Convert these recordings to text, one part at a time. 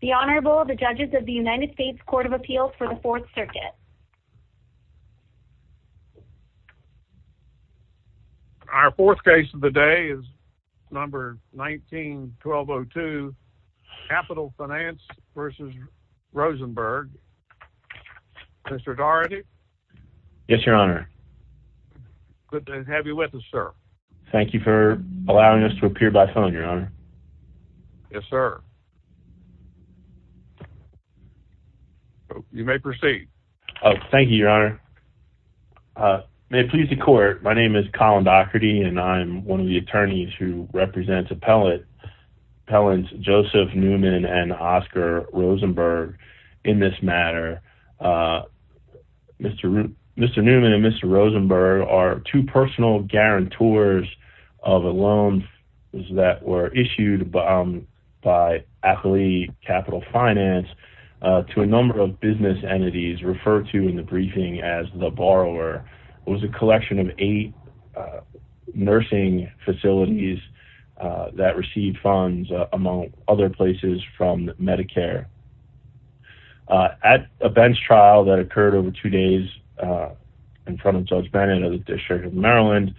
The Honorable, the Judges of the United States Court of Appeals for the Fourth Circuit Our fourth case of the day is number 19-1202, Capital Finance v. Rosenberg. Mr. Daugherty? Yes, Your Honor. Good to have you with us, sir. Thank you for allowing us to appear by phone, Your Honor. Yes, sir. You may proceed. Thank you, Your Honor. May it please the Court, my name is Colin Daugherty and I'm one of the attorneys who represents appellants Joseph Newman and Oscar Rosenberg in this matter. Mr. Newman and Mr. Rosenberg are two personal guarantors of a loan that were issued by Accoli Capital Finance to a number of business entities referred to in the briefing as the borrower. It was a collection of eight nursing facilities that received funds among other places from Medicare. At a bench trial that occurred over two days in front of Judge Bennett of the District of Maryland,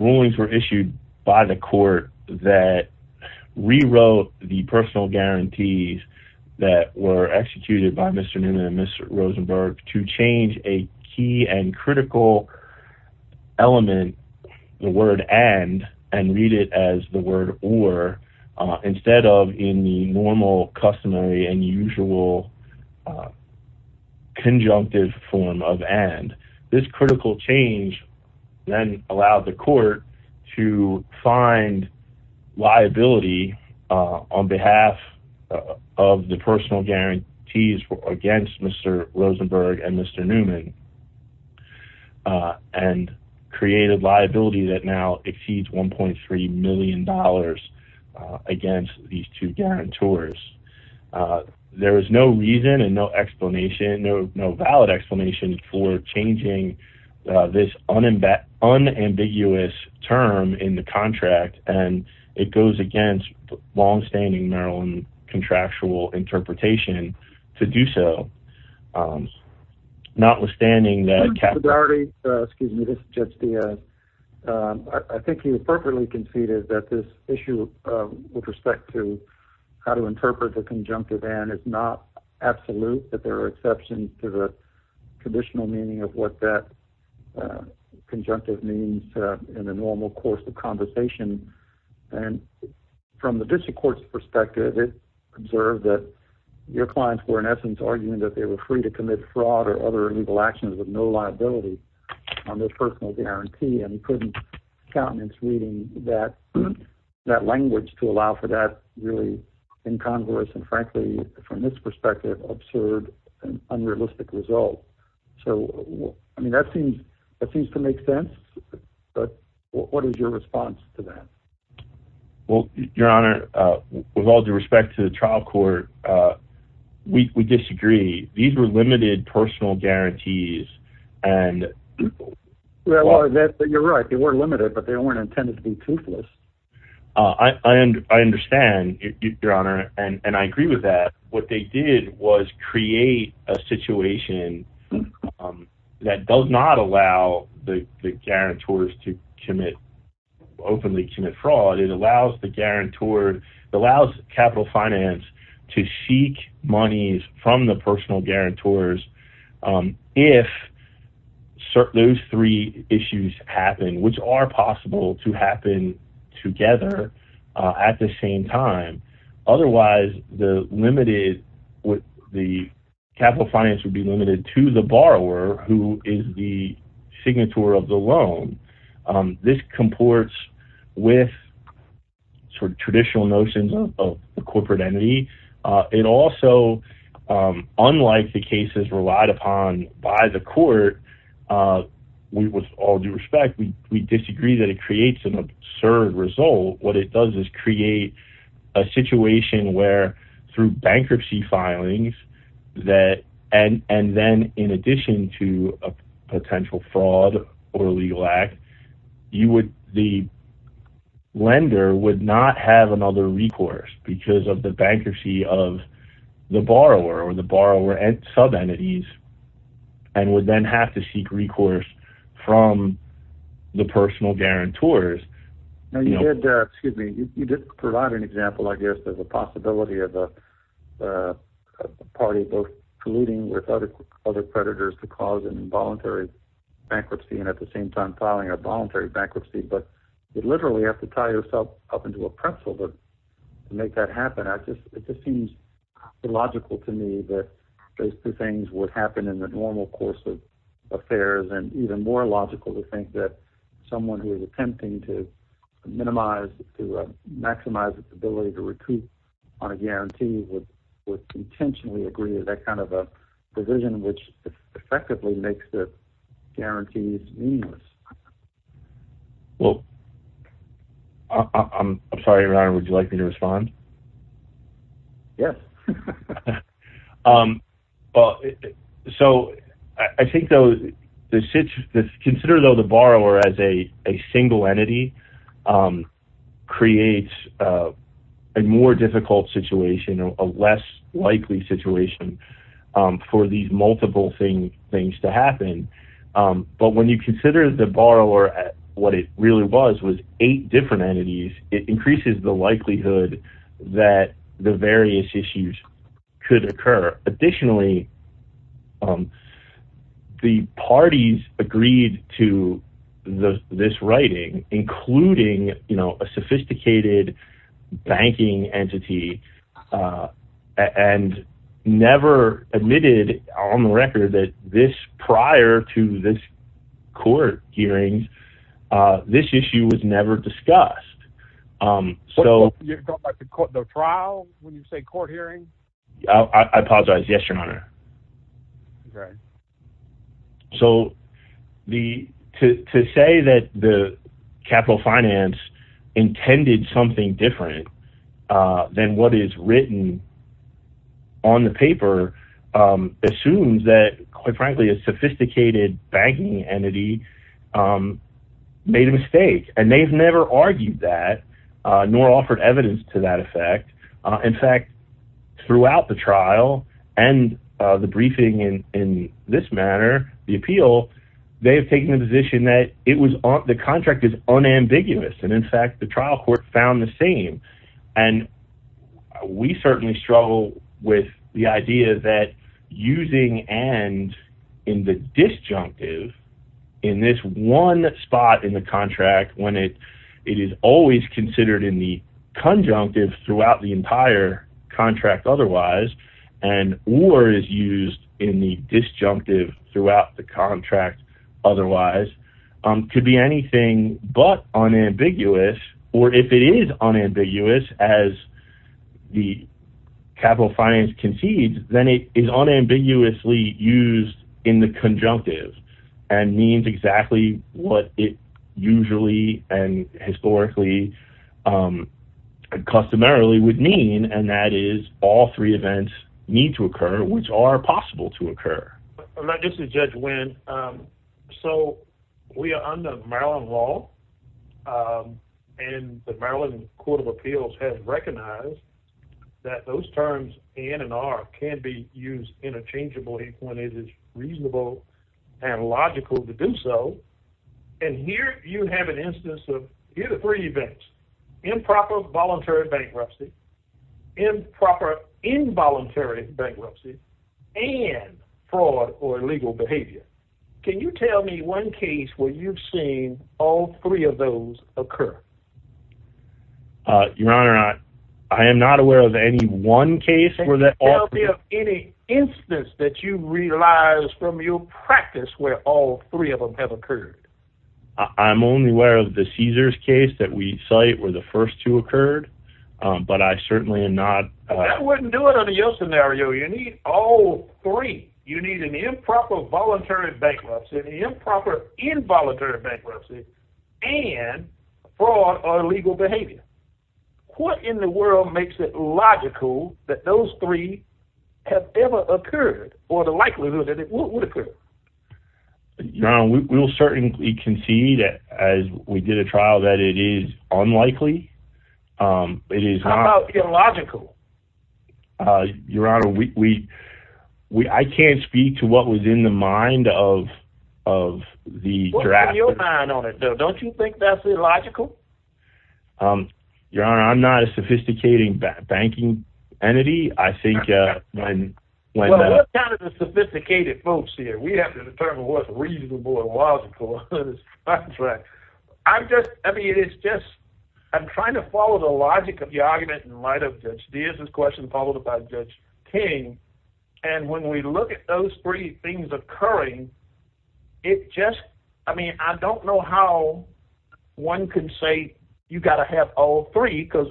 rulings were issued by the court that rewrote the personal guarantees that were executed by Mr. Newman and Mr. Rosenberg to change a key and critical element, the word and, and read it as the word or, instead of in the normal customary and usual conjunctive form of and. This critical change then allowed the court to find liability on behalf of the personal guarantees against Mr. Rosenberg and Mr. Newman and created liability that now exceeds $1.3 million against these two guarantors. There is no reason and no explanation, no valid explanation for changing this unambiguous term in the contract and it goes against longstanding Maryland contractual interpretation to do so. Notwithstanding that capital. Mr. Dougherty, excuse me, this is Judge Diaz. I think you appropriately conceded that this issue with respect to how to interpret the conjunctive and is not absolute, that there are exceptions to the conditional meaning of what that conjunctive means in the normal course of conversation. And from the District Court's perspective, it observed that your clients were in essence arguing that they were free to commit fraud or other illegal actions with no liability on their personal guarantee and couldn't countenance reading that language to allow for that really incongruous and frankly, from this perspective, absurd and unrealistic result. So, I mean, that seems to make sense. But what is your response to that? Well, Your Honor, with all due respect to the trial court, we disagree. These were limited personal guarantees. And you're right. They were limited, but they weren't intended to be toothless. I understand, Your Honor, and I agree with that. What they did was create a situation that does not allow the guarantors to commit, openly commit fraud. It allows the guarantor, it allows capital finance to seek monies from the personal guarantors if those three issues happen, which are possible to happen together at the same time. Otherwise, the limited, the capital finance would be limited to the borrower, who is the signature of the loan. This comports with sort of traditional notions of the corporate entity. It also, unlike the cases relied upon by the court, with all due respect, we disagree that it creates an absurd result. What it does is create a situation where, through bankruptcy filings, and then in addition to a potential fraud or illegal act, the lender would not have another recourse because of the bankruptcy of the borrower or the borrower sub-entities, and would then have to seek recourse from the personal guarantors. Now you did provide an example, I guess, of the possibility of a party both colluding with other creditors to cause an involuntary bankruptcy and at the same time filing a voluntary bankruptcy. But you literally have to tie yourself up into a pretzel to make that happen. It just seems illogical to me that those two things would happen in the normal course of affairs, and even more illogical to think that someone who is attempting to minimize, to maximize its ability to recoup on a guarantee would intentionally agree to that kind of a provision, which effectively makes the guarantees meaningless. Well, I'm sorry, Ron, would you like me to respond? Yes. Well, so I think, though, consider, though, the borrower as a single entity creates a more difficult situation, a less likely situation for these multiple things to happen. But when you consider the borrower, what it really was was eight different entities, it increases the likelihood that the various issues could occur. Additionally, the parties agreed to this writing, including a sophisticated banking entity, and never admitted on the record that this prior to this court hearing, this issue was never discussed. You're talking about the trial when you say court hearing? I apologize. Yes, Your Honor. Right. So to say that the capital finance intended something different than what is written on the paper assumes that, quite frankly, a sophisticated banking entity made a mistake, and they've never argued that, nor offered evidence to that effect. In fact, throughout the trial and the briefing in this manner, the appeal, they have taken the position that the contract is unambiguous, and in fact, the trial court found the same. And we certainly struggle with the idea that using and in the disjunctive in this one spot in the contract, when it is always considered in the conjunctive throughout the entire contract otherwise, and or is used in the disjunctive throughout the contract otherwise, could be anything but unambiguous. Or if it is unambiguous, as the capital finance concedes, then it is unambiguously used in the conjunctive and means exactly what it usually and historically, customarily would mean, and that is all three events need to occur, which are possible to occur. This is Judge Wynn. So we are under Maryland law, and the Maryland Court of Appeals has recognized that those terms in and are can be used interchangeably when it is reasonable and logical to do so. And here you have an instance of either three events, improper voluntary bankruptcy, improper involuntary bankruptcy, and fraud or illegal behavior. Can you tell me one case where you've seen all three of those occur? Your Honor, I am not aware of any one case where that or any instance that you realize from your practice where all three of them have occurred. I'm only aware of the Caesars case that we cite where the first two occurred, but I certainly am not. That wouldn't do it under your scenario. You need all three. You need an improper voluntary bankruptcy, an improper involuntary bankruptcy, and fraud or illegal behavior. What in the world makes it logical that those three have ever occurred or the likelihood that it would occur? Your Honor, we will certainly concede as we did a trial that it is unlikely. How about illogical? Your Honor, I can't speak to what was in the mind of the draft. What was in your mind on it though? Don't you think that's illogical? Your Honor, I'm not a sophisticated banking entity. What kind of sophisticated folks here? We have to determine what's reasonable and logical. I'm just, I mean, it's just, I'm trying to follow the logic of the argument in light of Judge Diaz's question followed by Judge King. And when we look at those three things occurring, it just, I mean, I don't know how one can say you got to have all three because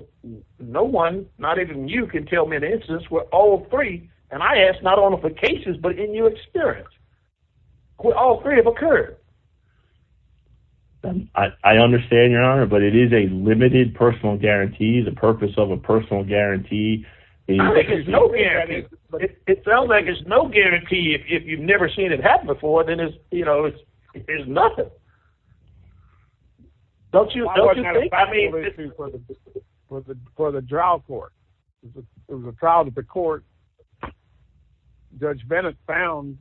no one, not even you, can tell me the instance where all three, and I ask not only for cases but in your experience, where all three have occurred. I understand, Your Honor, but it is a limited personal guarantee. The purpose of a personal guarantee is... It sounds like there's no guarantee. If you've never seen it happen before, then it's, you know, it's nothing. Don't you think? For the trial court, there was a trial at the court, Judge Bennett found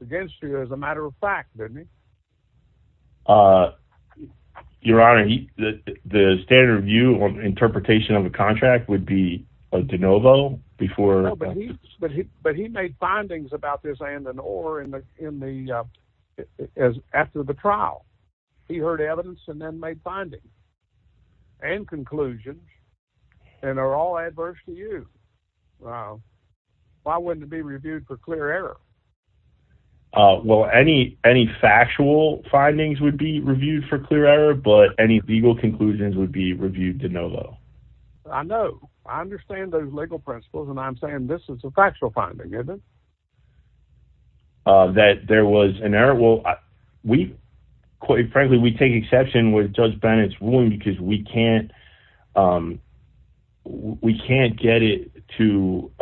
against you as a matter of fact, didn't he? Your Honor, the standard view or interpretation of a contract would be a de novo before... He heard evidence and then made findings and conclusions, and they're all adverse to you. Why wouldn't it be reviewed for clear error? Well, any factual findings would be reviewed for clear error, but any legal conclusions would be reviewed de novo. I know. I understand those legal principles, and I'm saying this is a factual finding, isn't it? That there was an error, well, we, quite frankly, we take exception with Judge Bennett's ruling because we can't... We can't get it to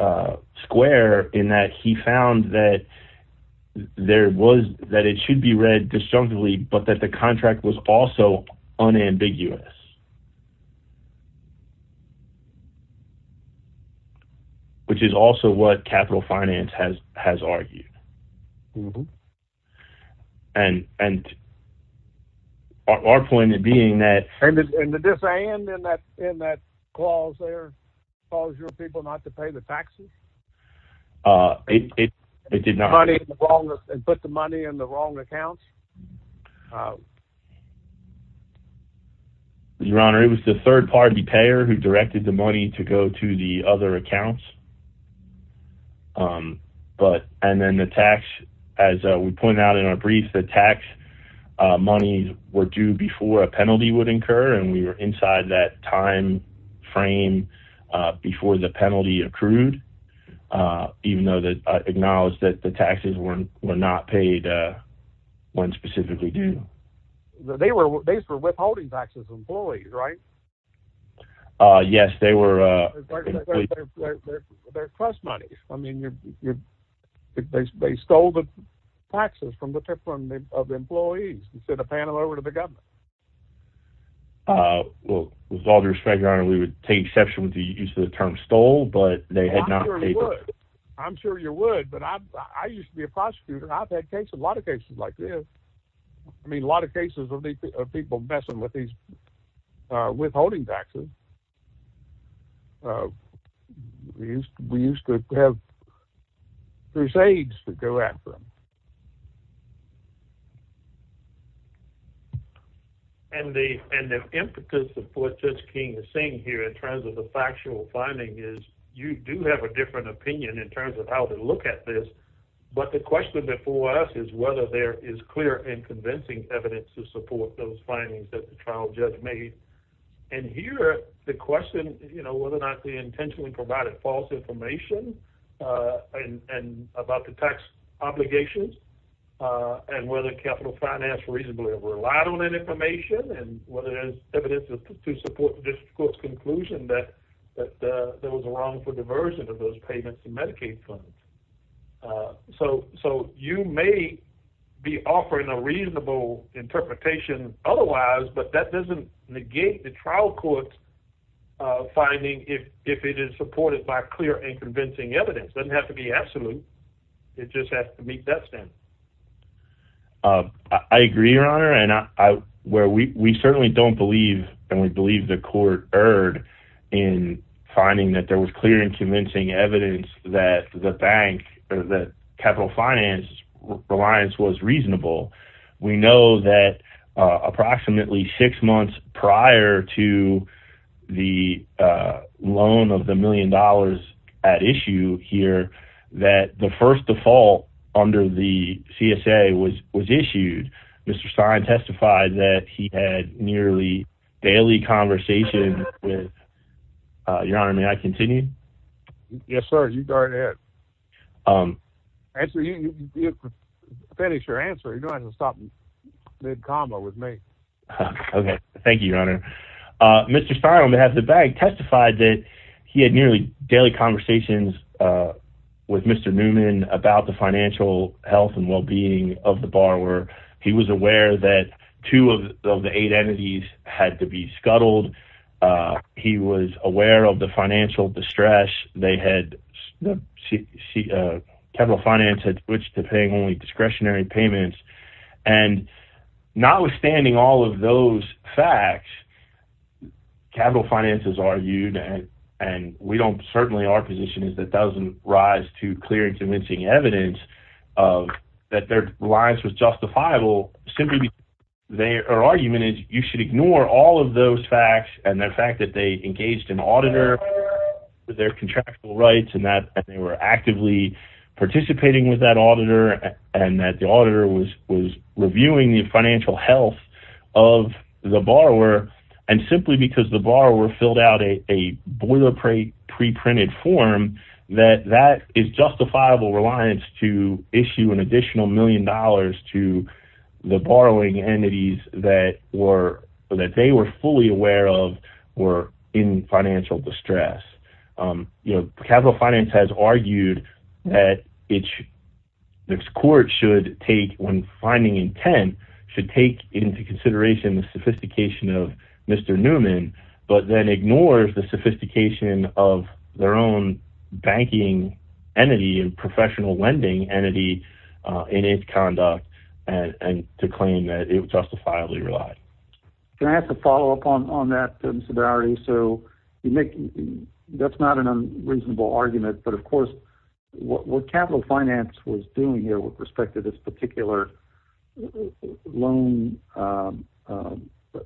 square in that he found that there was, that it should be read disjunctively, but that the contract was also unambiguous. Which is also what capital finance has argued, and our point being that... And did this end in that clause there, clause your people not to pay the taxes? It did not. And put the money in the wrong accounts? Your Honor, it was the third party payer who directed the money to go to the other accounts. But, and then the tax, as we pointed out in our brief, the tax money were due before a penalty would incur, and we were inside that time frame before the penalty accrued, even though I acknowledge that the taxes were not paid when specifically due. They were withholding taxes from employees, right? Yes, they were... They're trust monies. I mean, they stole the taxes from the employees instead of paying them over to the government. Well, with all due respect, Your Honor, we would take exception with the use of the term stole, but they had not... I'm sure you would, but I used to be a prosecutor. I've had cases, a lot of cases like this. I mean, a lot of cases of people messing with these withholding taxes. We used to have crusades to go after them. And the impetus of what Judge King is saying here in terms of the factual finding is you do have a different opinion in terms of how to look at this. But the question before us is whether there is clear and convincing evidence to support those findings that the trial judge made. And here, the question, you know, whether or not they intentionally provided false information about the tax obligations, and whether capital finance reasonably relied on that information, and whether there's evidence to support the district court's conclusion that there was a wrongful diversion of those payments to Medicaid funds. So you may be offering a reasonable interpretation otherwise, but that doesn't negate the trial court's finding if it is supported by clear and convincing evidence. It doesn't have to be absolute. It just has to meet that standard. I agree, Your Honor, and we certainly don't believe, and we believe the court erred in finding that there was clear and convincing evidence that the bank, that capital finance reliance was reasonable. We know that approximately six months prior to the loan of the million dollars at issue here, that the first default under the CSA was issued. Mr. Stein testified that he had nearly daily conversation with, Your Honor, may I continue? Yes, sir, you go ahead. Answer, finish your answer. You don't have to stop mid-comma with me. Okay, thank you, Your Honor. Mr. Stein, on behalf of the bank, testified that he had nearly daily conversations with Mr. Newman about the financial health and well-being of the borrower. He was aware that two of the eight entities had to be scuttled. He was aware of the financial distress. They had, capital finance had switched to paying only discretionary payments, and notwithstanding all of those facts, capital finance has argued, and we don't, certainly our position is that doesn't rise to clear and convincing evidence that their reliance was justifiable simply because their argument is you should ignore all of those facts and the fact that they engaged an auditor with their contractual rights and that they were actively participating with that auditor and that the auditor was reviewing the financial health of the borrower and simply because the borrower filled out a boilerplate pre-printed form that that is justifiable reliance to issue an additional million dollars to the borrowing entities that they were fully aware of were in financial distress. You know, capital finance has argued that its court should take, when finding intent, should take into consideration the sophistication of Mr. Newman but then ignores the sophistication of their own banking entity and professional lending entity in its conduct and to claim that it justifiably relied. Can I ask a follow-up on that, Mr. Dougherty? So you make, that's not an unreasonable argument, but of course, what capital finance was doing here with respect to this particular loan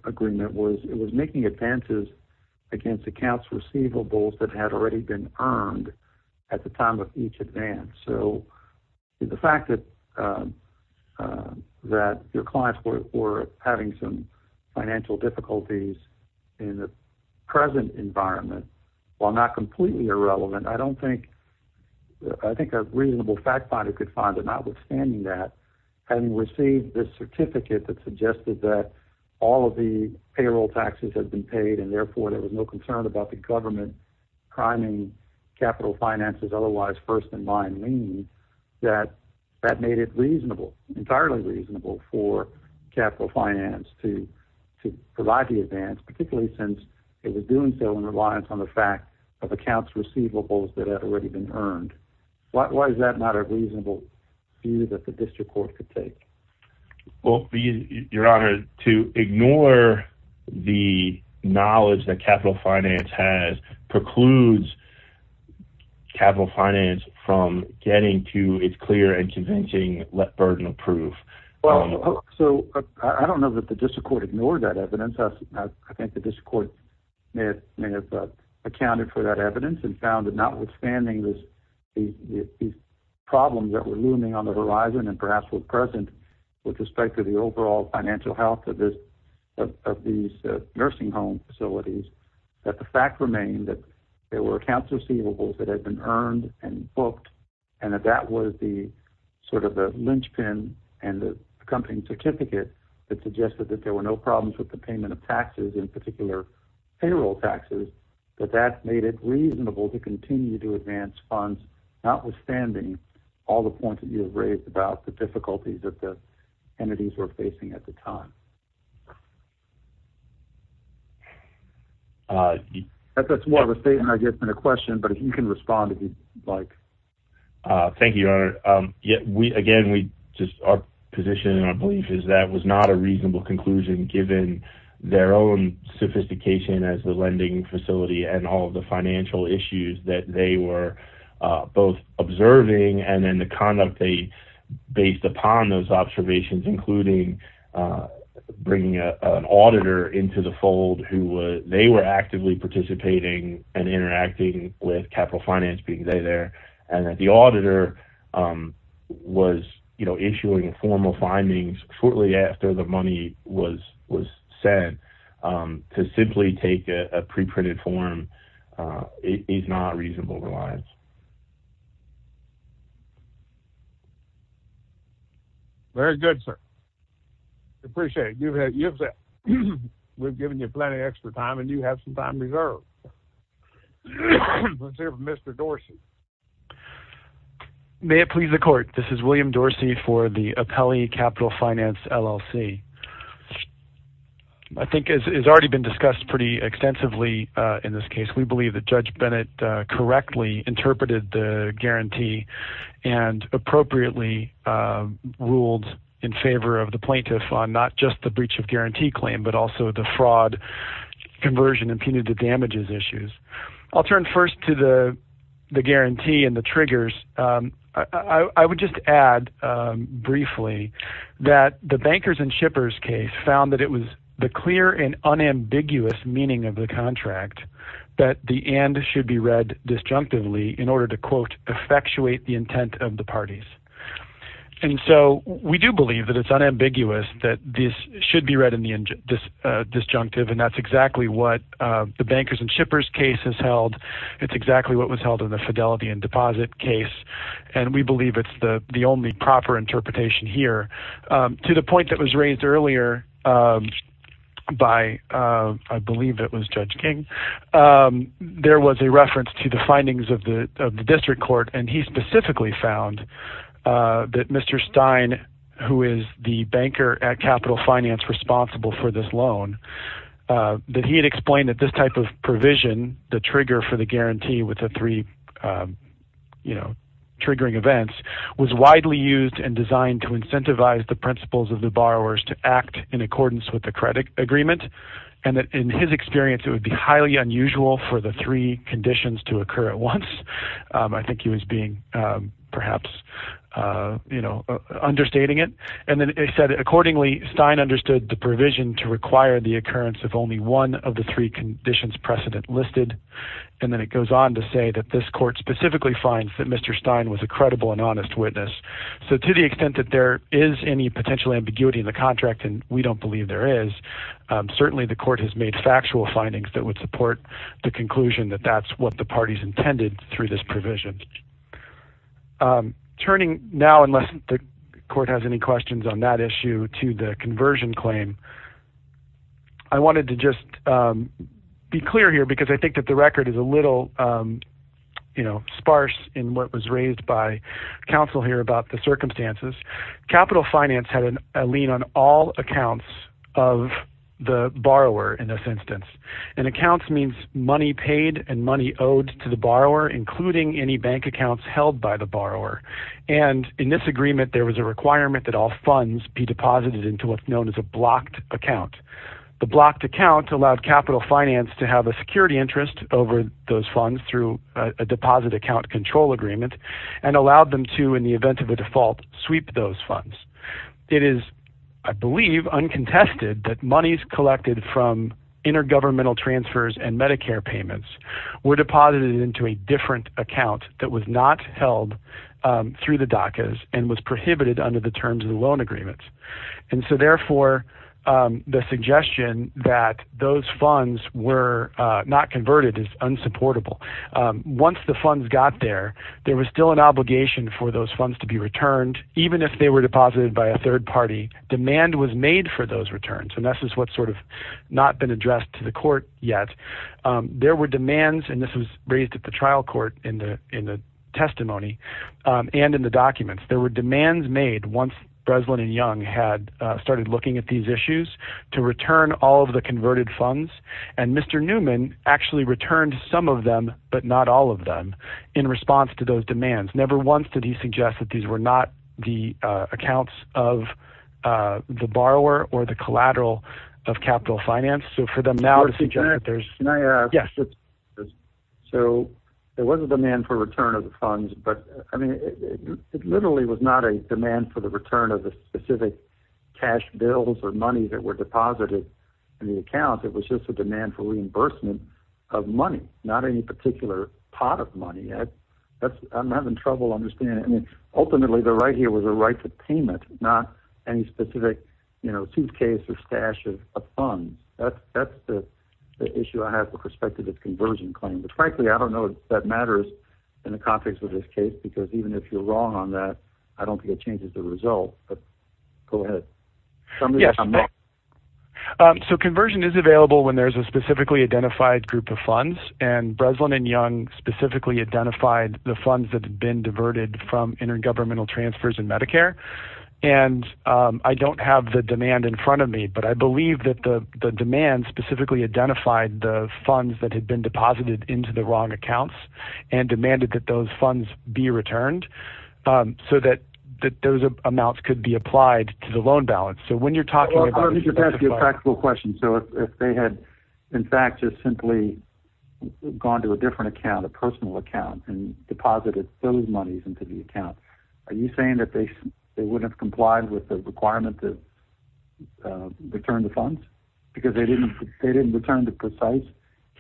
agreement was it was making advances against accounts receivables that had already been earned at the time of each advance. So the fact that your clients were having some financial difficulties in the present environment, while not completely irrelevant, I don't think, I think a reasonable fact finder could find that notwithstanding that, having received this certificate that suggested that all of the payroll taxes had been paid and therefore there was no concern about the government priming capital finance's otherwise first-in-line lien, that that made it reasonable, entirely reasonable for capital finance to provide the advance, particularly since it was doing so in reliance on the fact of accounts receivables that had already been earned. Why is that not a reasonable view that the district court could take? Well, your honor, to ignore the knowledge that capital finance has precludes capital finance from getting to its clear and convincing let burden of proof. Well, so I don't know that the district court ignored that evidence. I think the district court may have accounted for that evidence and found that notwithstanding these problems that were looming on the horizon and perhaps were present with respect to the overall financial health of these nursing home facilities, that the fact remained that there were accounts receivables that had been earned and booked and that that was the sort of the linchpin and the accompanying certificate that suggested that there were no problems with the payment of taxes, in particular payroll taxes, that that made it reasonable to continue to advance funds, notwithstanding all the points that you have raised about the difficulties that the entities were facing at the time. That's more of a statement than a question, but if you can respond if you'd like. Thank you, your honor. Again, our position and our belief is that was not a reasonable conclusion given their own sophistication as the lending facility and all of the financial issues that they were both observing and then the conduct they based upon those observations, including bringing an auditor into the fold who they were actively participating and interacting with capital finance being there. And that the auditor was issuing formal findings shortly after the money was sent to simply take a preprinted form is not reasonable reliance. Very good, sir. Appreciate it. We've given you plenty of extra time and you have some time reserved. Let's hear from Mr. Dorsey. May it please the court. This is William Dorsey for the Apelli Capital Finance LLC. I think it's already been discussed pretty extensively in this case. We believe that Judge Bennett correctly interpreted the guarantee and appropriately ruled in favor of the plaintiff on not just the breach of guarantee claim, but also the fraud conversion and punitive damages issues. I'll turn first to the guarantee and the triggers. I would just add briefly that the bankers and shippers case found that it was the clear and unambiguous meaning of the contract that the and should be read disjunctively in order to, quote, effectuate the intent of the parties. We do believe that it's unambiguous that this should be read in the disjunctive and that's exactly what the bankers and shippers case has held. It's exactly what was held in the fidelity and deposit case. We believe it's the only proper interpretation here. To the point that was raised earlier by, I believe it was Judge King, there was a reference to the findings of the district court and he specifically found that Mr. Stein, who is the banker at Capital Finance responsible for this loan, that he had explained that this type of provision, the trigger for the guarantee with the three triggering events, was widely used and designed to incentivize the principles of the borrowers to act in accordance with the credit agreement and that in his experience it would be highly unusual for the three conditions to occur at once. I think he was being perhaps, you know, understating it and then he said accordingly Stein understood the provision to require the occurrence of only one of the three conditions precedent listed and then it goes on to say that this court specifically finds that Mr. Stein was a credible and honest witness. So to the extent that there is any potential ambiguity in the contract and we don't believe there is, certainly the court has made factual findings that would support the conclusion that that's what the parties intended through this provision. Turning now, unless the court has any questions on that issue, to the conversion claim, I wanted to just be clear here because I think that the record is a little, you know, sparse in what was raised by counsel here about the circumstances. Capital Finance had a lien on all accounts of the borrower in this instance and accounts means money paid and money owed to the borrower including any bank accounts held by the borrower and in this agreement there was a requirement that all funds be deposited into what's known as a blocked account. The blocked account allowed Capital Finance to have a security interest over those funds through a deposit account control agreement and allowed them to, in the event of a default, sweep those funds. It is, I believe, uncontested that monies collected from intergovernmental transfers and Medicare payments were deposited into a different account that was not held through the DACAs and was prohibited under the terms of the loan agreements. And so therefore, the suggestion that those funds were not converted is unsupportable. Once the funds got there, there was still an obligation for those funds to be returned even if they were deposited by a third party. Demand was made for those returns and this is what's sort of not been addressed to the court yet. There were demands and this was raised at the trial court in the testimony and in the documents. There were demands made once Breslin and Young had started looking at these issues to return all of the converted funds and Mr. Newman actually returned some of them but not all of them in response to those demands. Never once did he suggest that these were not the accounts of the borrower or the collateral of capital finance. So for them now to suggest that there's... Can I add? Yes. So there was a demand for return of the funds but, I mean, it literally was not a demand for the return of the specific cash bills or money that were deposited in the account. not any particular pot of money. I'm having trouble understanding. Ultimately, the right here was a right to payment, not any specific suitcase or stash of funds. That's the issue I have with respect to this conversion claim. But frankly, I don't know if that matters in the context of this case because even if you're wrong on that, I don't think it changes the result. But go ahead. Somebody's on mute. So conversion is available when there's a specifically identified group of funds and Breslin and Young specifically identified the funds that had been diverted from intergovernmental transfers in Medicare. And I don't have the demand in front of me, but I believe that the demand specifically identified the funds that had been deposited into the wrong accounts and demanded that those funds be returned so that those amounts could be applied to the loan balance. So when you're talking about... Let me just ask you a practical question. So if they had, in fact, just simply gone to a different account, a personal account, and deposited those monies into the account, are you saying that they wouldn't have complied with the requirement to return the funds because they didn't return the precise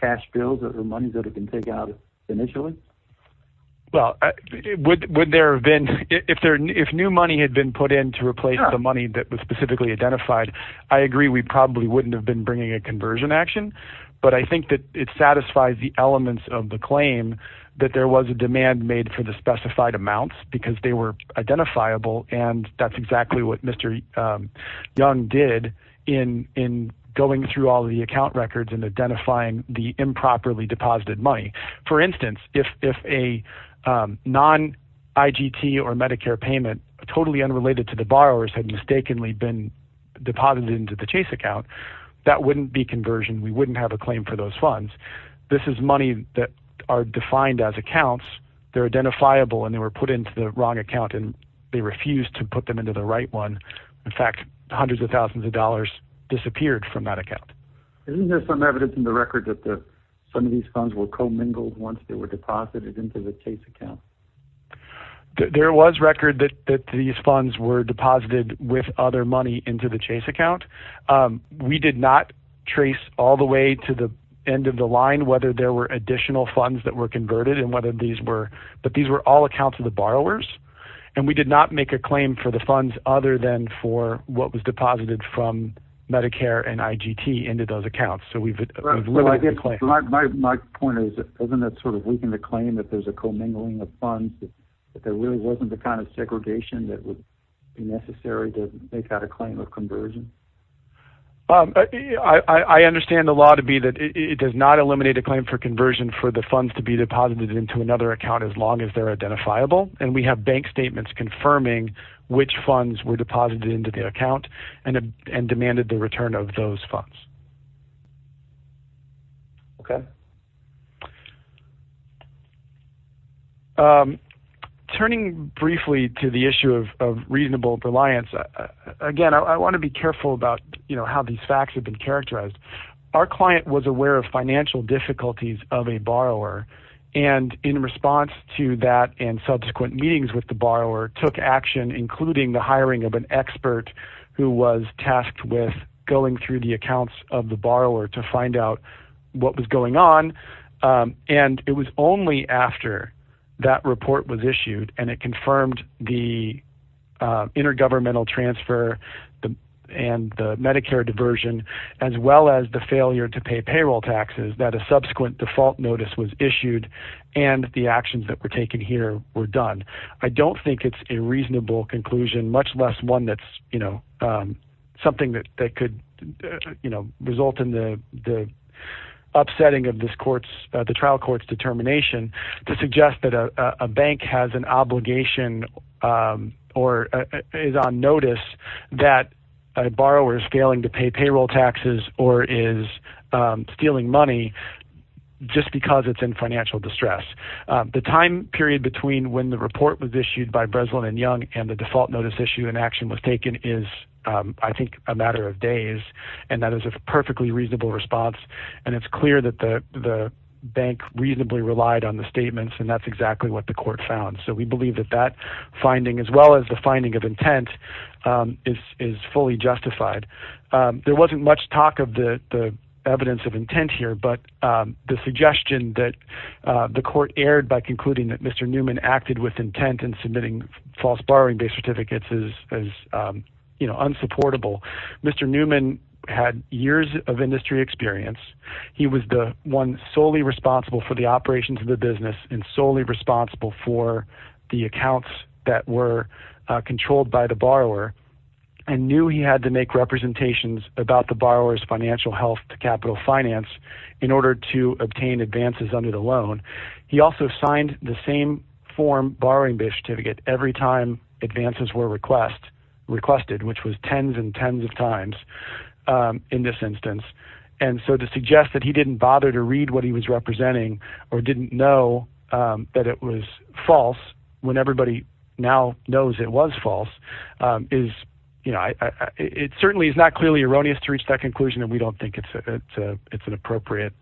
cash bills or the monies that had been taken out initially? Well, would there have been... If new money had been put in to replace the money that was specifically identified, I agree we probably wouldn't have been bringing a conversion action, but I think that it satisfies the elements of the claim that there was a demand made for the specified amounts because they were identifiable, and that's exactly what Mr. Young did in going through all the account records and identifying the improperly deposited money. For instance, if a non-IGT or Medicare payment totally unrelated to the borrowers had mistakenly been deposited into the Chase account, that wouldn't be conversion. We wouldn't have a claim for those funds. This is money that are defined as accounts. They're identifiable, and they were put into the wrong account, and they refused to put them into the right one. In fact, hundreds of thousands of dollars disappeared from that account. Isn't there some evidence in the record that some of these funds were commingled once they were deposited into the Chase account? There was record that these funds were deposited with other money into the Chase account. We did not trace all the way to the end of the line whether there were additional funds that were converted and whether these were, but these were all accounts of the borrowers, and we did not make a claim for the funds other than for what was deposited from Medicare and IGT into those accounts, so we've limited the claim. My point is, isn't that sort of weakening the claim that there's a commingling of funds, that there really wasn't the kind of segregation that would be necessary to make that a claim of conversion? I understand the law to be that it does not eliminate a claim for conversion for the funds to be deposited into another account as long as they're identifiable, and we have bank statements confirming which funds were deposited into the account and demanded the return of those funds. Okay. Turning briefly to the issue of reasonable reliance, again, I want to be careful about, you know, how these facts have been characterized. Our client was aware of financial difficulties of a borrower, and in response to that and subsequent meetings with the borrower took action including the hiring of an expert who was tasked with going through the accounts of the borrower to find out what was going on, and it was only after that report was issued and it confirmed the intergovernmental transfer and the Medicare diversion as well as the failure to pay payroll taxes that a subsequent default notice was issued and the actions that were taken here were done. I don't think it's a reasonable conclusion, much less one that's, you know, something that could, you know, upsetting of the trial court's determination to suggest that a bank has an obligation or is on notice that a borrower is failing to pay payroll taxes or is stealing money just because it's in financial distress. The time period between when the report was issued by Breslin and Young and the default notice issue and action was taken is, I think, a matter of days, and that is a perfectly reasonable response, and it's clear that the bank reasonably relied on the statements and that's exactly what the court found. So we believe that that finding as well as the finding of intent is fully justified. There wasn't much talk of the evidence of intent here, but the suggestion that the court aired by concluding that Mr. Newman acted with intent in submitting false borrowing-based certificates is, you know, unsupportable. Mr. Newman had years of industry experience. He was the one solely responsible for the operations of the business and solely responsible for the accounts that were controlled by the borrower and knew he had to make representations about the borrower's financial health to capital finance in order to obtain advances under the loan. He also signed the same form borrowing-based certificate every time advances were requested, which was tens and tens of times in this instance, and so to suggest that he didn't bother to read what he was representing or didn't know that it was false when everybody now knows it was false is, you know, it certainly is not clearly erroneous to reach that conclusion, and we don't think it's an appropriate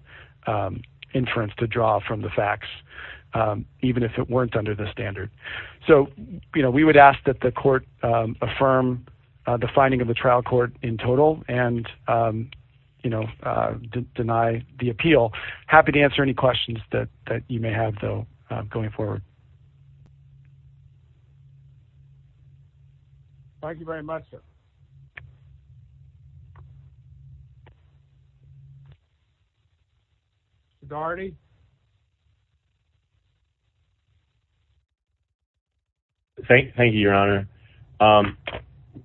inference to draw from the facts, even if it weren't under the standard. So, you know, we would ask that the court affirm the finding of the trial court in total and, you know, deny the appeal. Happy to answer any questions that you may have, though, going forward. Thank you very much, sir. Mr. Daugherty? Thank you, Your Honor.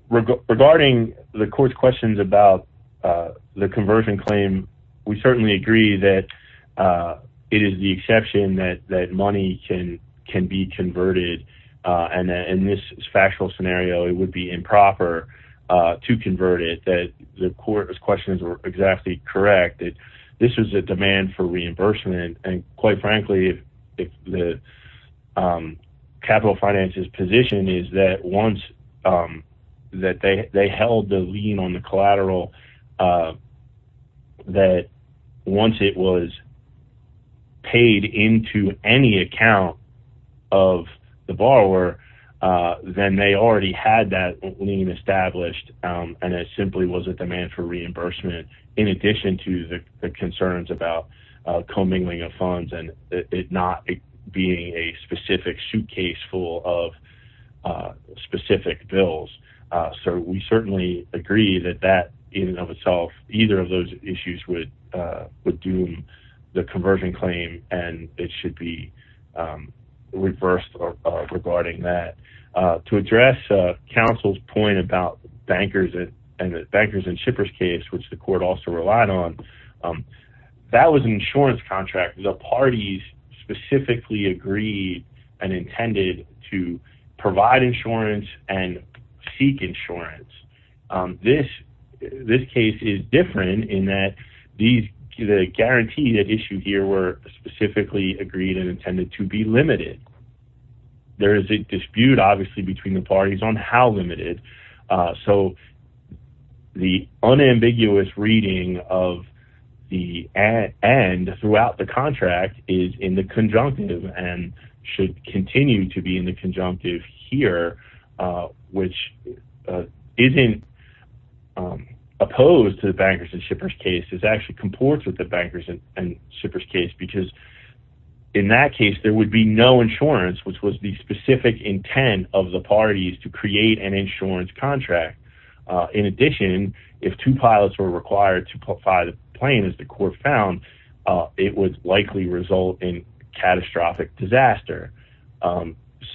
Regarding the court's questions about the conversion claim, we certainly agree that it is the exception that money can be converted, and in this factual scenario, it would be improper to convert it, that the court's questions were exactly correct. This was a demand for reimbursement, and quite frankly, the capital finances position is that once they held the lien on the collateral, that once it was paid into any account of the borrower, then they already had that lien established, and it simply was a demand for reimbursement in addition to the concerns about commingling of funds and it not being a specific suitcase full of specific bills. So we certainly agree that that, in and of itself, either of those issues would doom the conversion claim, and it should be reversed regarding that. To address counsel's point about bankers and the bankers and shippers case, which the court also relied on, that was an insurance contract. The parties specifically agreed and intended to provide insurance and seek insurance. This case is different in that the guarantee that issued here were specifically agreed and intended to be limited. There is a dispute, obviously, between the parties on how limited. So the unambiguous reading of the end throughout the contract is in the conjunctive and should continue to be in the conjunctive here, which isn't opposed to the bankers and shippers case. It actually comports with the bankers and shippers case because in that case, there would be no insurance, which was the specific intent of the parties to create an insurance contract. In addition, if two pilots were required to fly the plane, as the court found, it would likely result in catastrophic disaster.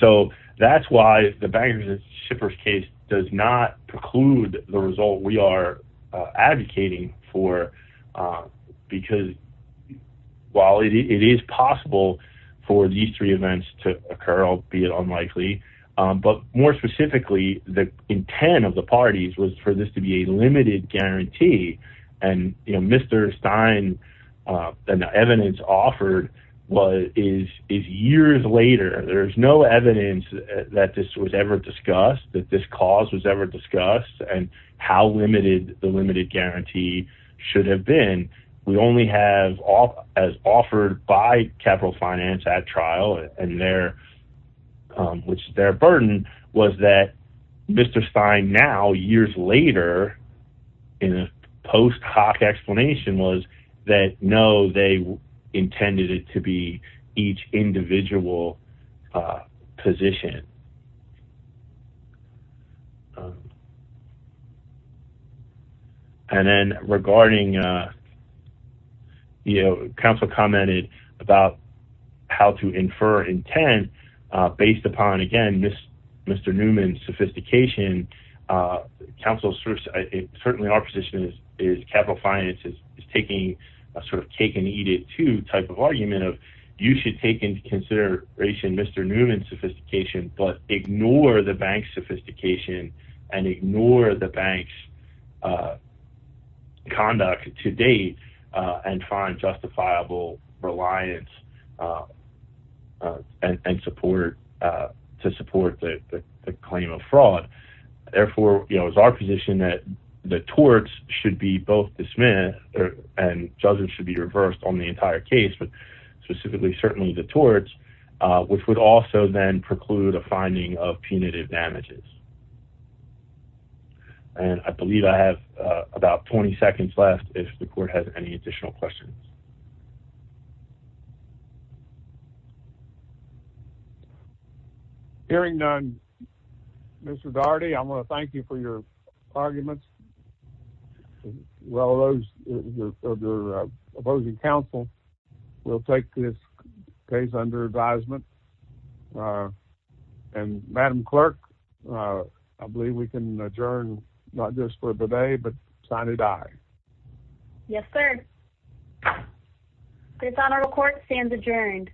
So that's why the bankers and shippers case does not preclude the result we are advocating for because while it is possible for these three events to occur, albeit unlikely, but more specifically, the intent of the parties was for this to be a limited guarantee. And Mr. Stein, the evidence offered is years later. There is no evidence that this was ever discussed, that this cause was ever discussed, and how limited the limited guarantee should have been. We only have, as offered by Capital Finance at trial, which their burden was that Mr. Stein now, years later, in a post hoc explanation was that no, they intended it to be each individual position. And then regarding, you know, counsel commented about how to infer intent based upon, again, Mr. Newman's sophistication. Certainly our position is Capital Finance is taking a sort of cake and eat it too type of argument of you should take into consideration Mr. Newman's sophistication, but ignore the bank's sophistication and ignore the bank's conduct to date and find justifiable reliance and support to support the claim of fraud. Therefore, you know, it was our position that the torts should be both dismissed and judges should be reversed on the entire case, but specifically, certainly the torts, which would also then preclude a finding of punitive damages. And I believe I have about 20 seconds left. If the court has any additional questions. Hearing none. Mr. Daugherty, I want to thank you for your arguments. Well, those of the opposing counsel will take this case under advisement. And Madam Clerk, I believe we can adjourn not just for the day, but sign it. Aye. Yes, sir. It's on our court stands adjourned.